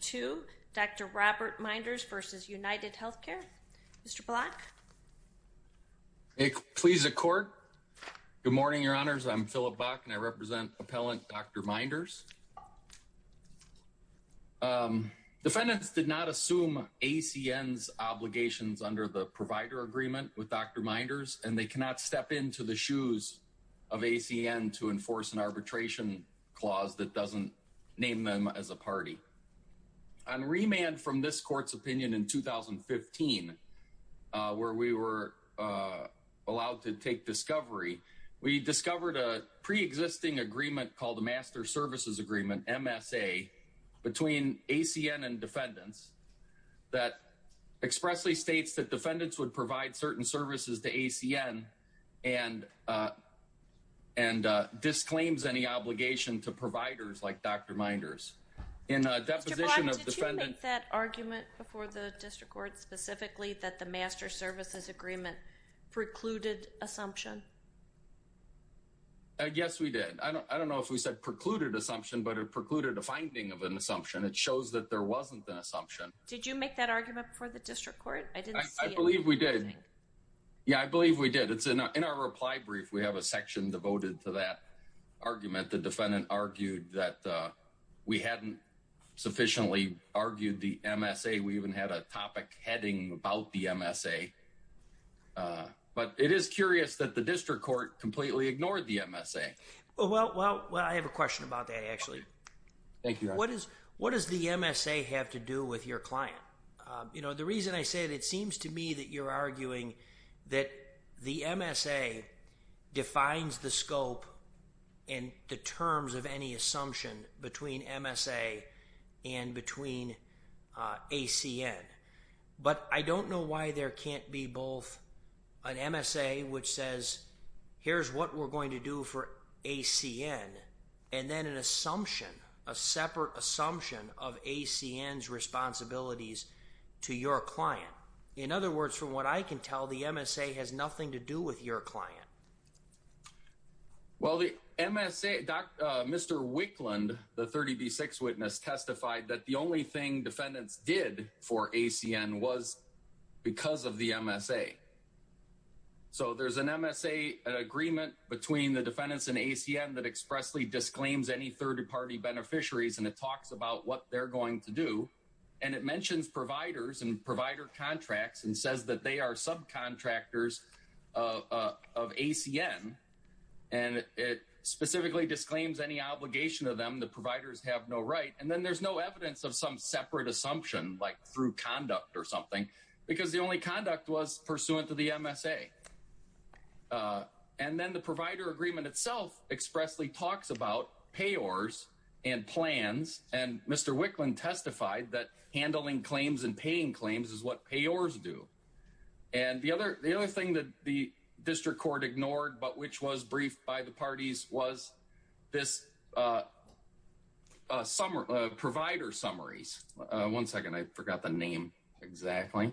to Dr. Robert Minders versus UnitedHealthcare. Mr. Block. Please accord. Good morning, your honors. I'm Philip Bach and I represent appellant Dr. Minders. Defendants did not assume ACN's obligations under the provider agreement with Dr. Minders and they cannot step into the shoes of ACN to enforce an arbitration clause that doesn't name them as a party. On remand from this court's opinion in 2015, where we were allowed to take discovery, we discovered a pre-existing agreement called the Master Services Agreement, MSA, between ACN and defendants that expressly states that defendants would provide certain services to ACN and disclaims any obligation to providers like Dr. Minders. In a deposition of defendant... Mr. Block, did you make that argument before the district court specifically that the Master Services Agreement precluded assumption? Yes, we did. I don't know if we said precluded assumption, but it precluded a finding of an assumption. It shows that there wasn't an assumption. Did you make that argument before the district court? I didn't see anything. I believe we did. Yeah, I believe we did. It's in our reply brief. We have a section devoted to that argument. The defendant argued that we hadn't sufficiently argued the MSA. We even had a topic heading about the MSA. But it is curious that the district court completely ignored the MSA. Well, I have a question about that, actually. Thank you. What does the MSA have to do with your client? You know, the reason I say that it seems to me that you're assumption between MSA and between ACN, but I don't know why there can't be both an MSA, which says, here's what we're going to do for ACN, and then an assumption, a separate assumption of ACN's responsibilities to your client. In other words, from what I can tell, the MSA has nothing to do with your client. Well, the MSA, Mr. Wicklund, the 30b6 witness testified that the only thing defendants did for ACN was because of the MSA. So there's an MSA, an agreement between the defendants and ACN that expressly disclaims any third-party beneficiaries and it talks about what they're going to do. And it mentions providers and provider contracts and says that they are subcontractors of ACN and it specifically disclaims any obligation of them. The providers have no right and then there's no evidence of some separate assumption like through conduct or something because the only conduct was pursuant to the MSA. And then the provider agreement itself expressly talks about payors and plans and Mr. Wicklund testified that handling claims and paying claims is what payors do. And the other thing that the district court ignored but which was briefed by the parties was this provider summaries. One second. I forgot the name exactly.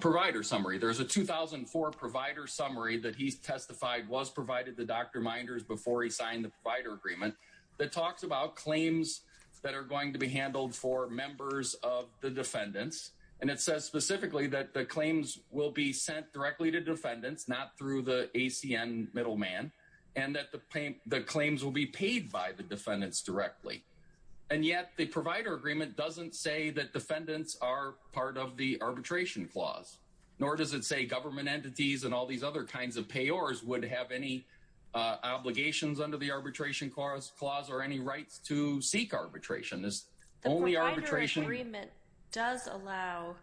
Provider summary. There's a 2004 provider summary that he's testified was provided the Dr. Minders before he signed the provider agreement that talks about claims that are going to be handled for members of the claims will be sent directly to defendants not through the ACN middleman and that the claims will be paid by the defendants directly and yet the provider agreement doesn't say that defendants are part of the arbitration clause nor does it say government entities and all these other kinds of payors would have any obligations under the arbitration clause or any rights to seek arbitration. The provider agreement does allow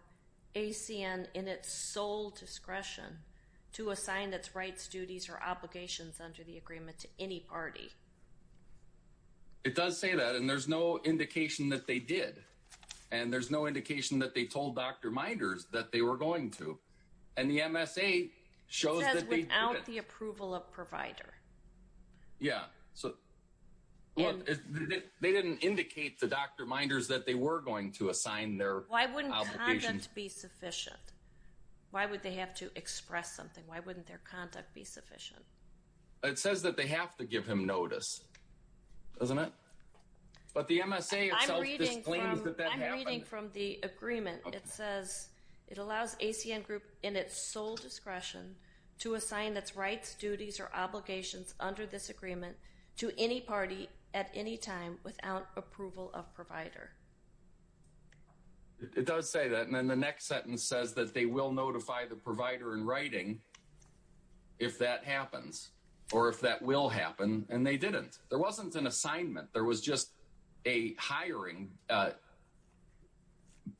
ACN in its sole discretion to assign its rights duties or obligations under the agreement to any party. It does say that and there's no indication that they did and there's no indication that they told Dr. Minders that they were going to and the MSA shows that without the approval of provider. Yeah, so they didn't indicate the Dr. Minders that they were going to assign their why wouldn't be sufficient. Why would they have to express something? Why wouldn't their conduct be sufficient? It says that they have to give him notice. But the MSA from the agreement. It says it allows ACN group in its sole discretion to assign its rights duties or obligations under this agreement to any party at any time without approval of provider. It does say that and then the next sentence says that they will notify the provider in writing. If that happens or if that will happen and they didn't there wasn't an assignment there was just a hiring.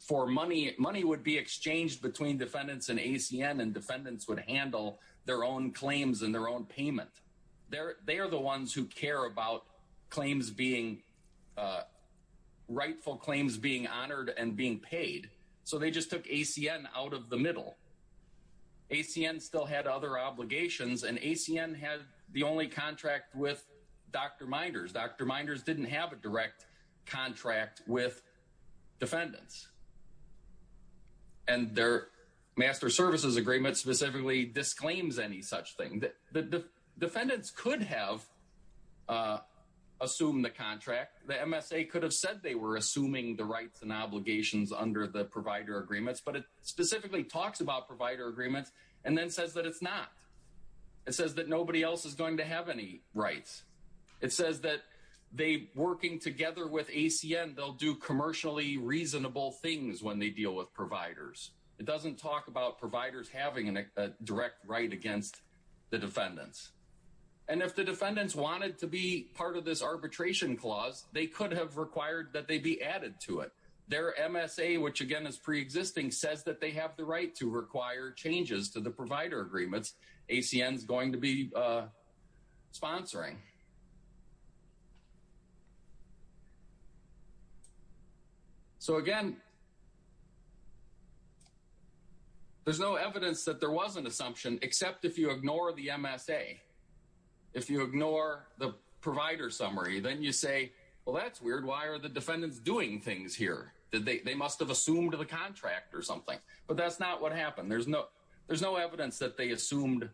For money money would be exchanged between defendants and ACM and defendants would handle their own claims in their own payment there. They are the ones who care about claims being rightful claims being honored and being paid. So they just took ACM out of the middle. ACM still had other obligations and ACM had the only contract with Dr. Minders Dr. Minders didn't have a direct contract with defendants. And their master services agreement specifically disclaims any such thing that the defendants could have assumed the contract the MSA could have said they were assuming the rights and obligations under the provider agreements, but it specifically talks about provider agreements and then says that it's not it says that nobody else is going to have any rights. It says that they working together with ACM. And they'll do commercially reasonable things when they deal with providers. It doesn't talk about providers having a direct right against the defendants. And if the defendants wanted to be part of this arbitration clause, they could have required that they be added to it their MSA which again is pre-existing says that they have the right to require changes to the provider agreements ACM is going to be sponsoring. So again. There's no evidence that there was an assumption except if you ignore the MSA. If you ignore the provider summary, then you say well, that's weird. Why are the defendants doing things here that they must have assumed to the contract or something, but that's not what happened. There's no there's no evidence that they assumed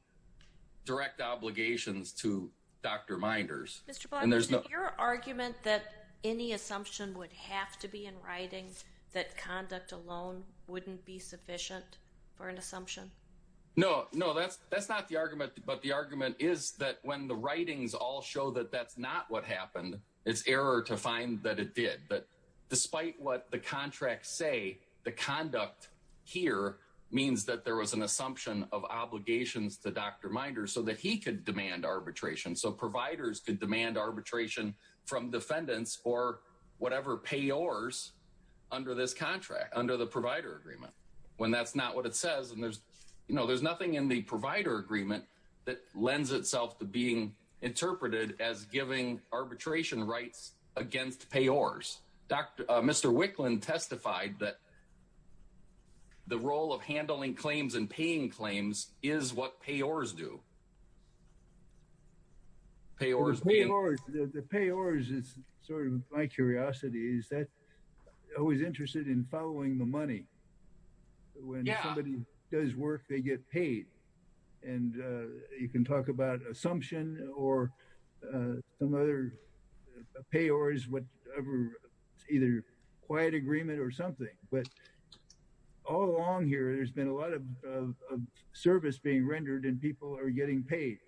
direct obligations to Dr. Minders and there's no your argument that any assumption would have to be in writing that conduct alone wouldn't be sufficient for an assumption. No, no, that's that's not the argument. But the argument is that when the writings all show that that's not what happened. It's error to find that it did but despite what the contracts say the conduct here means that there was an assumption of obligations to Dr. Minder so that he could demand arbitration. So providers could demand arbitration from defendants or whatever payors under this contract under the provider agreement when that's not what it says and there's you know, there's nothing in the provider agreement that lends itself to being interpreted as giving arbitration rights against payors. Dr. Mr. Wicklund testified that the role of handling claims and paying claims is what payors do. Payors payors the payors is sort of my curiosity. Is that always interested in following the money? When somebody does work they get paid and you can talk about assumption or some other payors whatever either quiet agreement or something but all along here. There's been a lot of service being rendered and people are getting paid.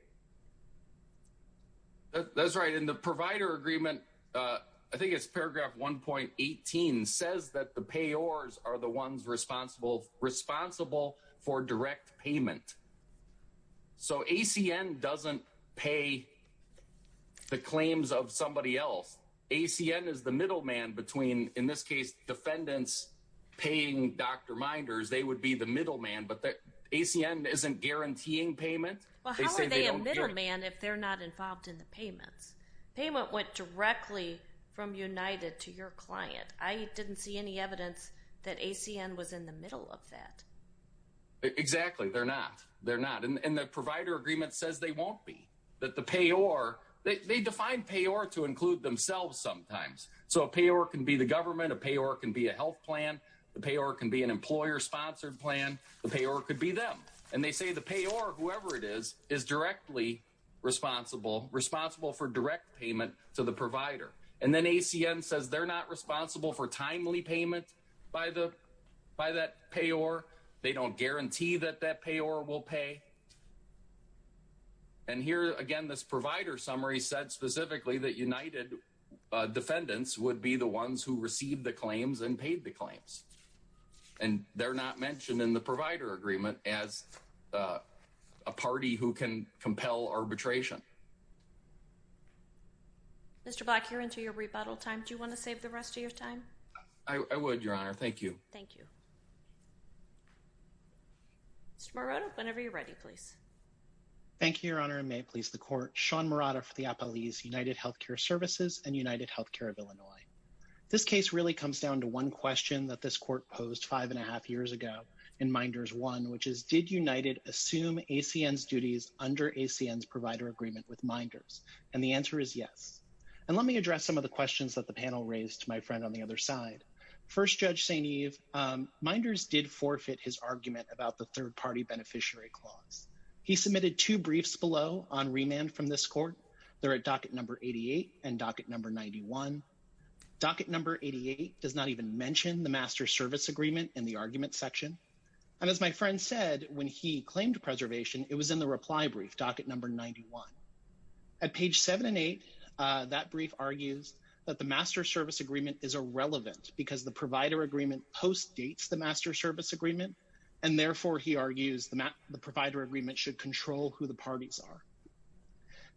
That's right in the provider agreement. I think it's paragraph 1.18 says that the payors are the ones responsible responsible for direct payment. So ACN doesn't pay the claims of somebody else. ACN is the middleman between in this case defendants paying Dr. Minders. They would be the middleman but that ACN isn't guaranteeing payment man if they're not involved in the payments payment went directly from United to your client. I didn't see any evidence that ACN was in the middle of that. Exactly. They're not they're not in the provider agreement says they won't be that the payor they define payor to include themselves sometimes so a payor can be the government a payor can be a health plan the payor can be an employer sponsored plan the payor could be them and they say the payor whoever it is is directly responsible responsible for direct payment to the provider and then ACN says they're not responsible for timely payment by the by that payor. They don't guarantee that that payor will pay. And here again this provider summary said specifically that United defendants would be the ones who received the claims and paid the claims and they're not mentioned in the provider agreement as a party who can compel arbitration. Mr. Black here into your rebuttal time. Do you want to save the rest of your time? I would your honor. Thank you. Thank you. Mr. Marotta whenever you're ready, please. Thank you your honor and may it please the court Sean Marotta for the Apple East United Healthcare Services and United Healthcare of Illinois. This case really comes down to one question that this court posed five and a half years ago in minders one, which is did United assume ACN's duties under ACN's provider agreement with minders and the answer is yes, and let me address some of the questions that the panel raised my friend on the other side first judge St. Eve minders did forfeit his argument about the third-party beneficiary clause. He submitted two briefs below on remand from this court there at docket number 88 and docket number 91 docket number 88 does not even mention the master service agreement in the argument section and as my friend said when he claimed preservation it was in the reply brief docket number 91 at page 7 and 8 that brief argues that the master service agreement is irrelevant because the provider agreement post dates the master service agreement and therefore he argues the provider agreement should control who the parties are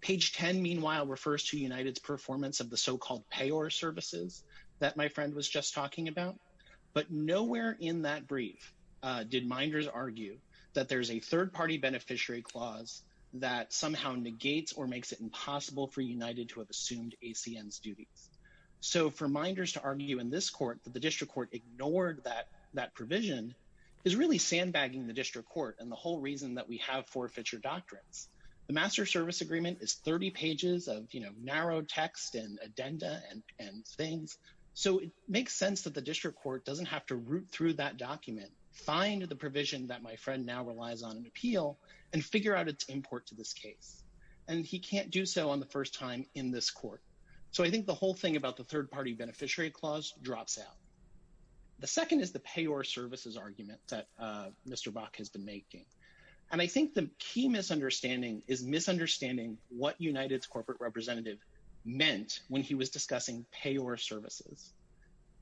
page 10. Meanwhile refers to United's performance of the so-called payor services that my friend was just talking about but nowhere in that brief did minders argue that there's a third-party beneficiary clause that somehow negates or makes it impossible for United to have assumed ACN's duties. So for minders to argue in this court that the district court ignored that that provision is really sandbagging the district court and the whole reason that we have forfeiture doctrines the master service agreement is 30 pages of you know, narrow text and addenda and things so it makes sense that the district court doesn't have to root through that document find the provision that my friend now relies on an appeal and figure out its import to this case and he can't do so on the first time in this court. So I think the whole thing about the third-party beneficiary clause drops out. The second is the payor services argument that Mr. Bach has been making and I think the key misunderstanding is misunderstanding what United's corporate representative meant when he was discussing payor services.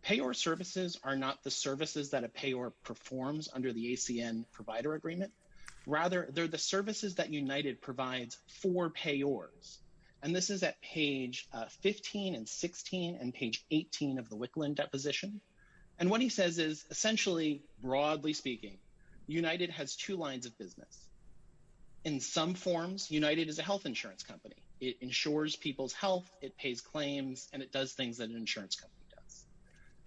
Payor services are not the services that a payor performs under the ACN provider agreement rather. They're the services that United provides for payors and this is at page 15 and 16 and page 18 of the Wicklund deposition and what he says is essentially broadly speaking United has two lines of business. In some forms United is a health insurance company. It ensures people's health it pays claims and it does things that an insurance company does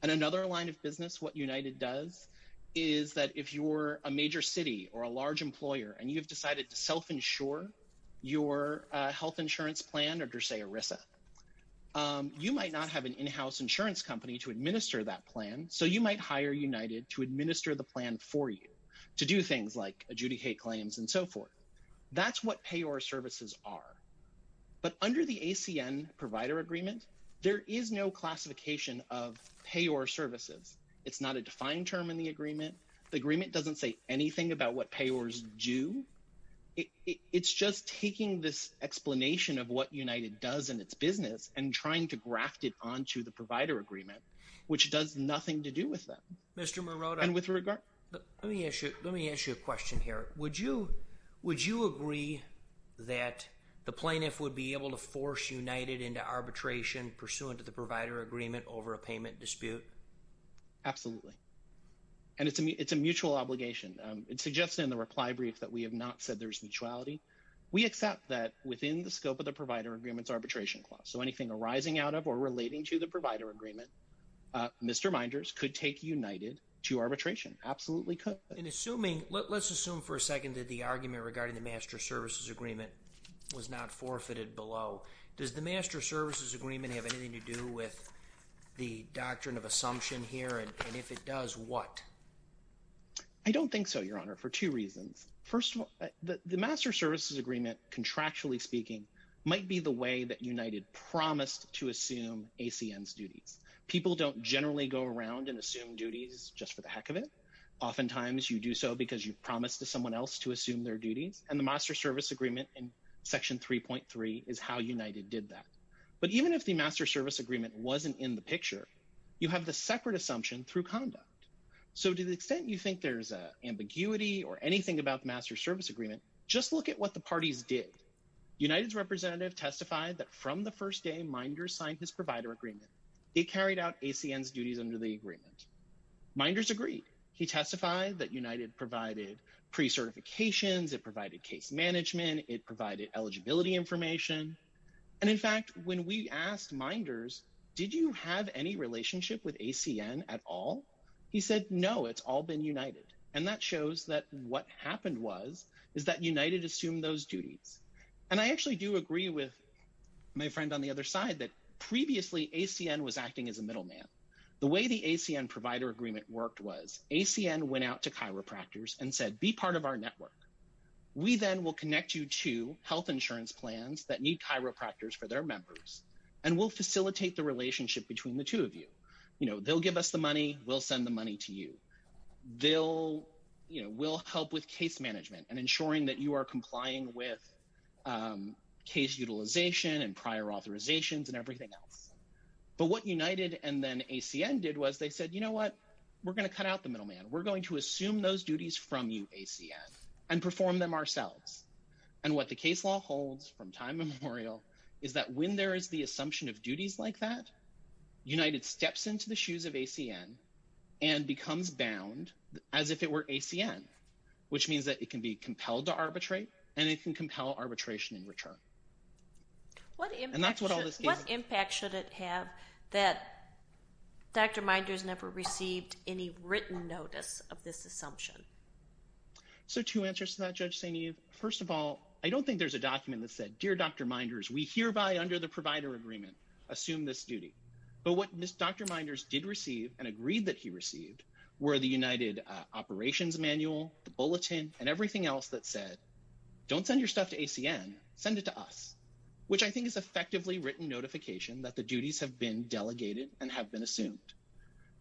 and another line of business what United does is that if you were a major city or a large employer and you've decided to self insure your health insurance plan or to say Orissa, you might not have an in-house insurance company to administer that plan. So you might hire United to administer the plan for you to do things like adjudicate claims and so forth. That's what payor services are but under the ACN provider agreement, there is no classification of payor services. It's not a defined term in the agreement. The agreement doesn't say anything about what payors do. It's just taking this explanation of what United does in its business and trying to graft it onto the provider agreement, which does nothing to do with them. Mr. Morota, let me ask you a question here. Would you agree that the plaintiff would be able to force United into arbitration pursuant to the provider agreement over a payment dispute? Absolutely. And it's a mutual obligation. It suggests in the reply brief that we have not said there's mutuality. We accept that within the scope of the provider agreements arbitration clause. So anything arising out of or relating to the provider agreement, Mr. Minders could take United to arbitration. Absolutely could. And assuming, let's assume for a second that the argument regarding the master services agreement was not forfeited below, does the master services agreement have anything to do with the doctrine of assumption here? And if it does, what? I don't think so, Your Honor, for two reasons. First of all, the master services agreement, contractually speaking, might be the way that United promised to assume ACN's duties. People don't generally go around and assume duties just for the heck of it. Oftentimes you do so because you promised to someone else to assume their duties and the master service agreement in section 3.3 is how United did that. But even if the master service agreement wasn't in the picture, you have the separate assumption through conduct. So to the extent you think there's a ambiguity or anything about the master service agreement, just look at what the parties did. United's representative testified that from the first day Minders signed his provider agreement, they carried out ACN's duties under the agreement. Minders agreed. He testified that United provided pre-certifications, it provided case management, it provided eligibility information. And in fact, when we asked Minders, did you have any relationship with ACN at all? He said, no, it's all been United. And that shows that what happened was, is that United assumed those duties. And I actually do agree with my friend on the other side that previously ACN was acting as a middleman. The way the ACN provider agreement worked was ACN went out to chiropractors and said, be part of our network. We then will connect you to health insurance plans that need chiropractors for their members and we'll facilitate the relationship between the two of you. You know, they'll give us the money. We'll send the money to you. They'll, you know, we'll help with case management and ensuring that you are complying with case utilization and prior authorizations and everything else. But what United and then ACN did was they said, you know what, we're going to cut out the middleman. We're going to assume those duties from you ACN and perform them ourselves. And what the case law holds from time immemorial is that when there is the assumption of duties like that, United steps into the shoes of ACN and becomes bound as if it were arbitrary and it can compel arbitration in return. What impact should it have that Dr. Minders never received any written notice of this assumption? So two answers to that Judge St. Eve. First of all, I don't think there's a document that said, dear Dr. Minders, we hereby under the provider agreement assume this duty. But what Dr. Minders did receive and agreed that he received were the United operations manual, the bulletin and everything else that said don't send your stuff to ACN, send it to us, which I think is effectively written notification that the duties have been delegated and have been assumed.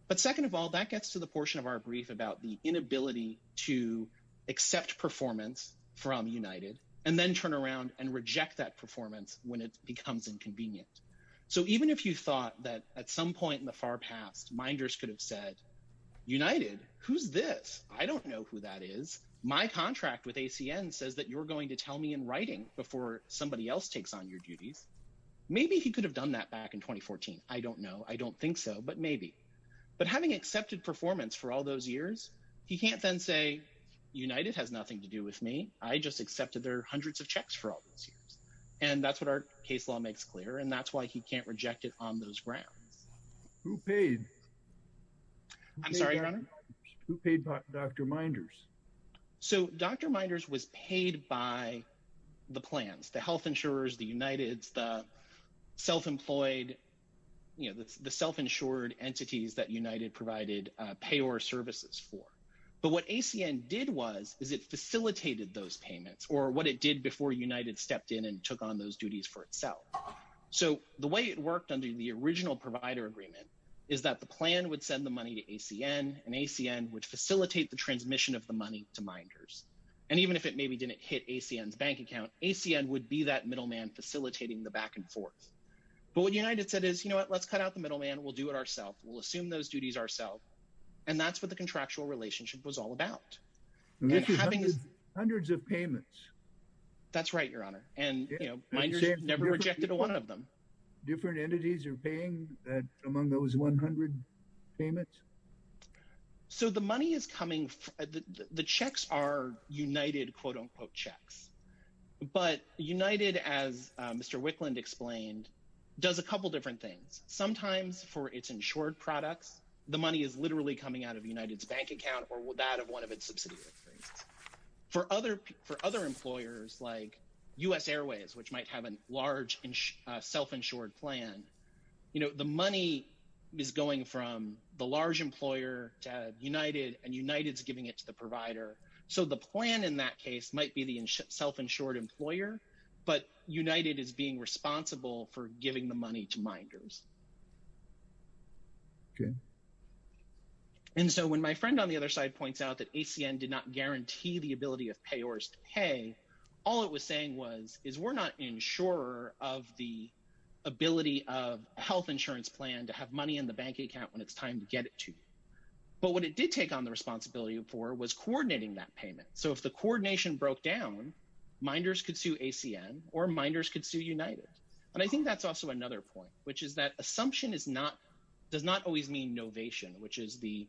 But second of all, that gets to the portion of our brief about the inability to accept performance from United and then turn around and reject that performance when it becomes inconvenient. So even if you thought that at some point in the far past, Minders could have said United. Who's this? I don't know who that is. My contract with ACN says that you're going to tell me in writing before somebody else takes on your duties. Maybe he could have done that back in 2014. I don't know. I don't think so, but maybe but having accepted performance for all those years, he can't then say United has nothing to do with me. I just accepted their hundreds of checks for all those years. And that's what our case law makes clear. And that's why he can't reject it on those grounds who paid. I'm sorry, who paid Dr. Minders. So Dr. Minders was paid by the plans, the health insurers, the United's the self-employed, you know, the self-insured entities that United provided payor services for but what ACN did was is it facilitated those payments or what it did before United stepped in and took on those duties for itself. So the way it worked under the original provider agreement is that the plan would send the money to ACN and ACN would facilitate the transmission of the money to Minders and even if it maybe didn't hit ACN's bank account, ACN would be that middleman facilitating the back and forth. But what United said is, you know what? Let's cut out the middleman. We'll do it ourselves. We'll assume those duties ourselves and that's what the contractual relationship was all about. Hundreds of payments. That's right, your honor. And you know, Minders never rejected one of them. Different entities are paying among those 100 payments? So the money is coming. The checks are United quote-unquote checks, but United as Mr. Wicklund explained, does a couple different things. Sometimes for its insured products, the money is literally coming out of United's bank account or that of one of its subsidiaries. For other employers like US Airways, which might have a large self-insured plan, you know, the money is going from the large employer to United and United's giving it to the provider. So the plan in that case might be the self-insured employer, but United is being responsible for giving the money to Minders. Okay. And so when my friend on the other side points out that ACN did not guarantee the ability of payors to pay, all it was saying was, is we're not insurer of the ability of health insurance plan to have money in the bank account when it's time to get it to you. But what it did take on the responsibility for was coordinating that payment. So if the coordination broke down, Minders could sue ACN or Minders could sue United. And I think that's also another point, which is that assumption is not, does not always mean novation, which is the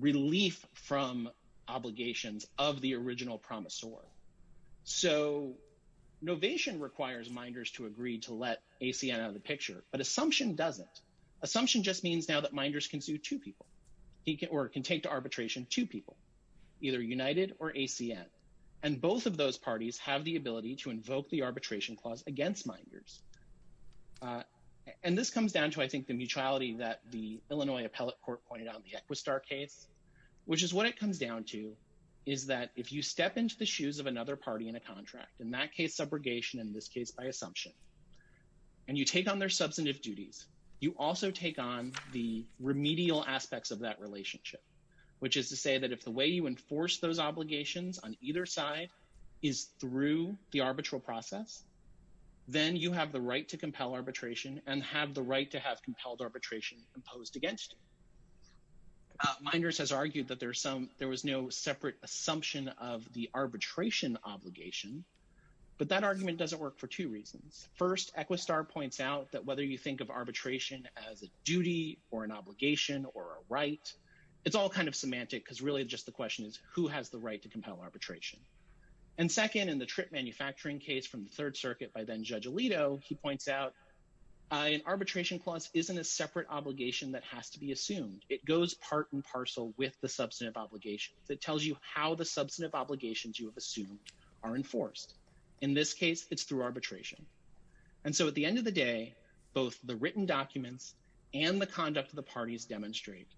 relief from obligations of the original promisor. So, novation requires Minders to agree to let ACN out of the picture, but assumption doesn't. Assumption just means now that Minders can sue two people. He can, or can take to arbitration two people, either United or ACN. And both of those parties have the ability to invoke the arbitration clause against Minders. And this comes down to, I think, the mutuality that the Illinois Appellate Court pointed out in the Equistar case, which is what it comes down to is that if you step into the shoes of another party in a contract, in that case, subrogation, in this case, by assumption, and you take on their substantive duties, you also take on the remedial aspects of that relationship, which is to say that if the way you enforce those obligations on either side is through the arbitral process, then you have the right to compel arbitration and have the right to have compelled arbitration imposed against you. Minders has argued that there's some, there was no separate assumption of the arbitration obligation, but that argument doesn't work for two reasons. First, Equistar points out that whether you think of arbitration as a duty or an obligation or a right, it's all kind of semantic because really just the question is who has the right to compel arbitration. And second, in the trip manufacturing case from the Third Circuit by then Judge Alito, he points out an arbitration clause isn't a separate obligation that has to be assumed. It goes part and parcel with the substantive obligation that tells you how the substantive obligations you have assumed are enforced. In this case, it's through arbitration. And so at the end of the day, both the written documents and the conduct of the parties demonstrate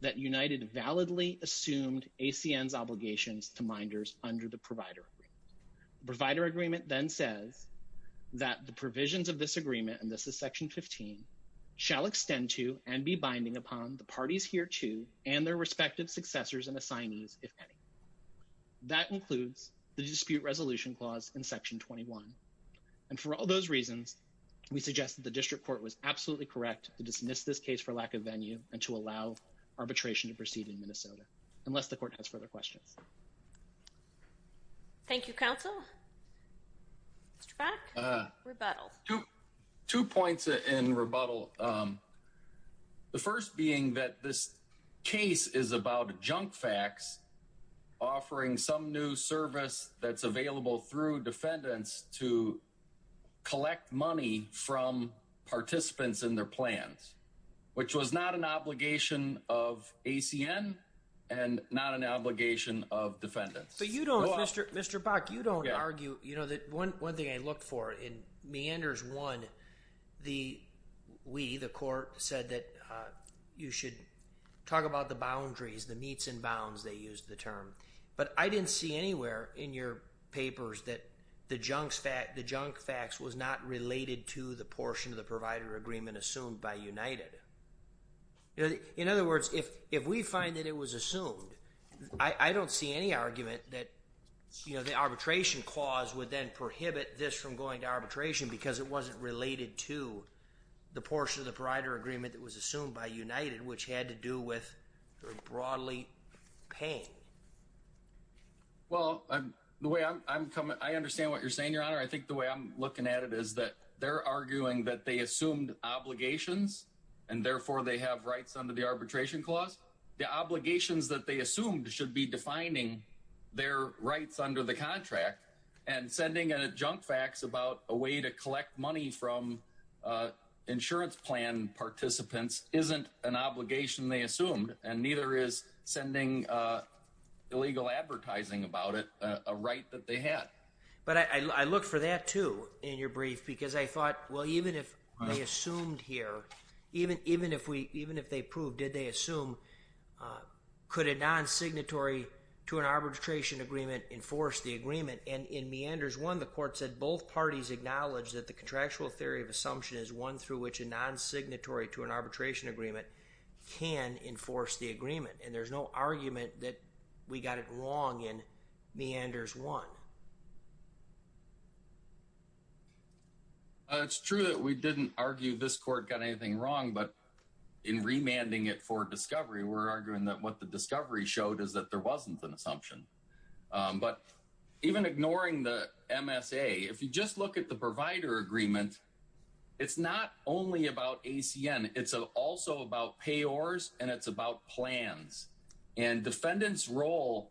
that United validly assumed ACN's obligations to Minders under the provider agreement. Provider agreement then says that the provisions of this agreement, and this is section 15, shall extend to and be binding upon the parties hereto and their respective successors and assignees, if any. That includes the dispute resolution clause in section 21. And for all those reasons, we suggest that the district court was absolutely correct to dismiss this case for lack of venue and to allow arbitration to proceed in Minnesota, unless the court has further questions. Thank you, counsel. Mr. Back, rebuttal. Two points in rebuttal. The first being that this case is about junk facts, offering some new service that's available through defendants to collect money from participants in their plans, which was not an obligation of ACN and not an obligation of defendants. But you don't, Mr. Back, you don't argue, you know, that one thing I look for in We, the court, said that you should talk about the boundaries, the meets and bounds, they used the term. But I didn't see anywhere in your papers that the junk facts was not related to the portion of the provider agreement assumed by United. In other words, if we find that it was assumed, I don't see any argument that, you know, the arbitration clause would then prohibit this from going to arbitration because it wasn't related to the portion of the provider agreement that was assumed by United, which had to do with their broadly paying. Well, I'm the way I'm coming. I understand what you're saying, your honor. I think the way I'm looking at it is that they're arguing that they assumed obligations and therefore they have rights under the arbitration clause. The obligations that they assumed should be defining their rights under the contract and sending a junk facts about a way to collect money from insurance plan participants isn't an obligation they assumed and neither is sending illegal advertising about it a right that they had. But I look for that too in your brief because I thought, well, even if I assumed here, even if they proved, did they assume, could a non-signatory to an arbitration agreement enforce the agreement and in meanders one, the court said both parties acknowledge that the contractual theory of assumption is one through which a non-signatory to an arbitration agreement can enforce the agreement and there's no argument that we got it wrong in meanders one. It's true that we didn't argue this court got anything wrong, but in remanding it for discovery, we're arguing that what the discovery showed is that there wasn't an assumption, but even ignoring the MSA, if you just look at the provider agreement, it's not only about ACN. It's also about payors and it's about plans and defendants role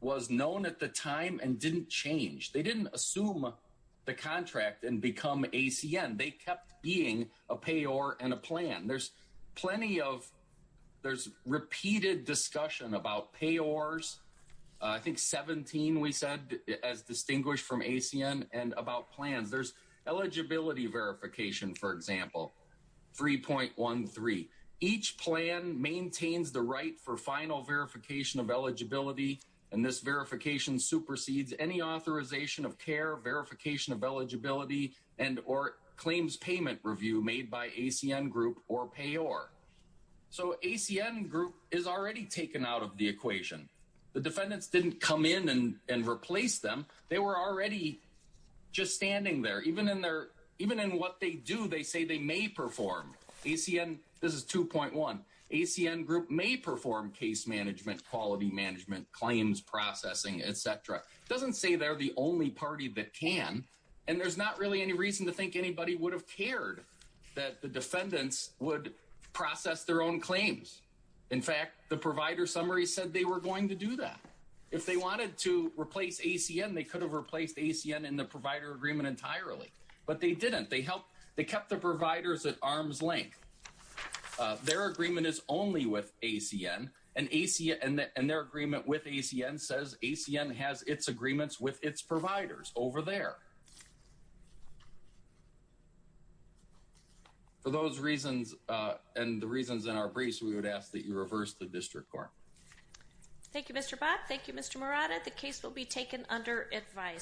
was known at the time and didn't change. They didn't assume the contract and become ACN. They kept being a payor and a plan. There's plenty of there's repeated discussion about payors. I think 17 we said as distinguished from ACN and about plans. There's eligibility verification. For example, 3.13 each plan maintains the right for final verification of eligibility and this verification supersedes any authorization of care verification of eligibility and or claims payment review made by ACN group or payor. So ACN group is already taken out of the equation. The defendants didn't come in and and replace them. They were already just standing there even in their even in what they do. They say they may perform ACN. This is 2.1 ACN group may perform case management quality management claims processing Etc doesn't say they're the only party that can and there's not really any reason to think anybody would have cared that the defendants would process their own claims. In fact, the provider summary said they were going to do that if they wanted to replace ACN. They could have replaced ACN in the provider agreement entirely, but they didn't they help. They kept the providers at arm's length. Their agreement is only with ACN and ACN and their agreement with ACN says ACN has its agreements with its providers over there. For those reasons and the reasons in our briefs, we would ask that you reverse the district court. Thank you Mr. Bob. Thank you Mr. Murata. The case will be taken under advice.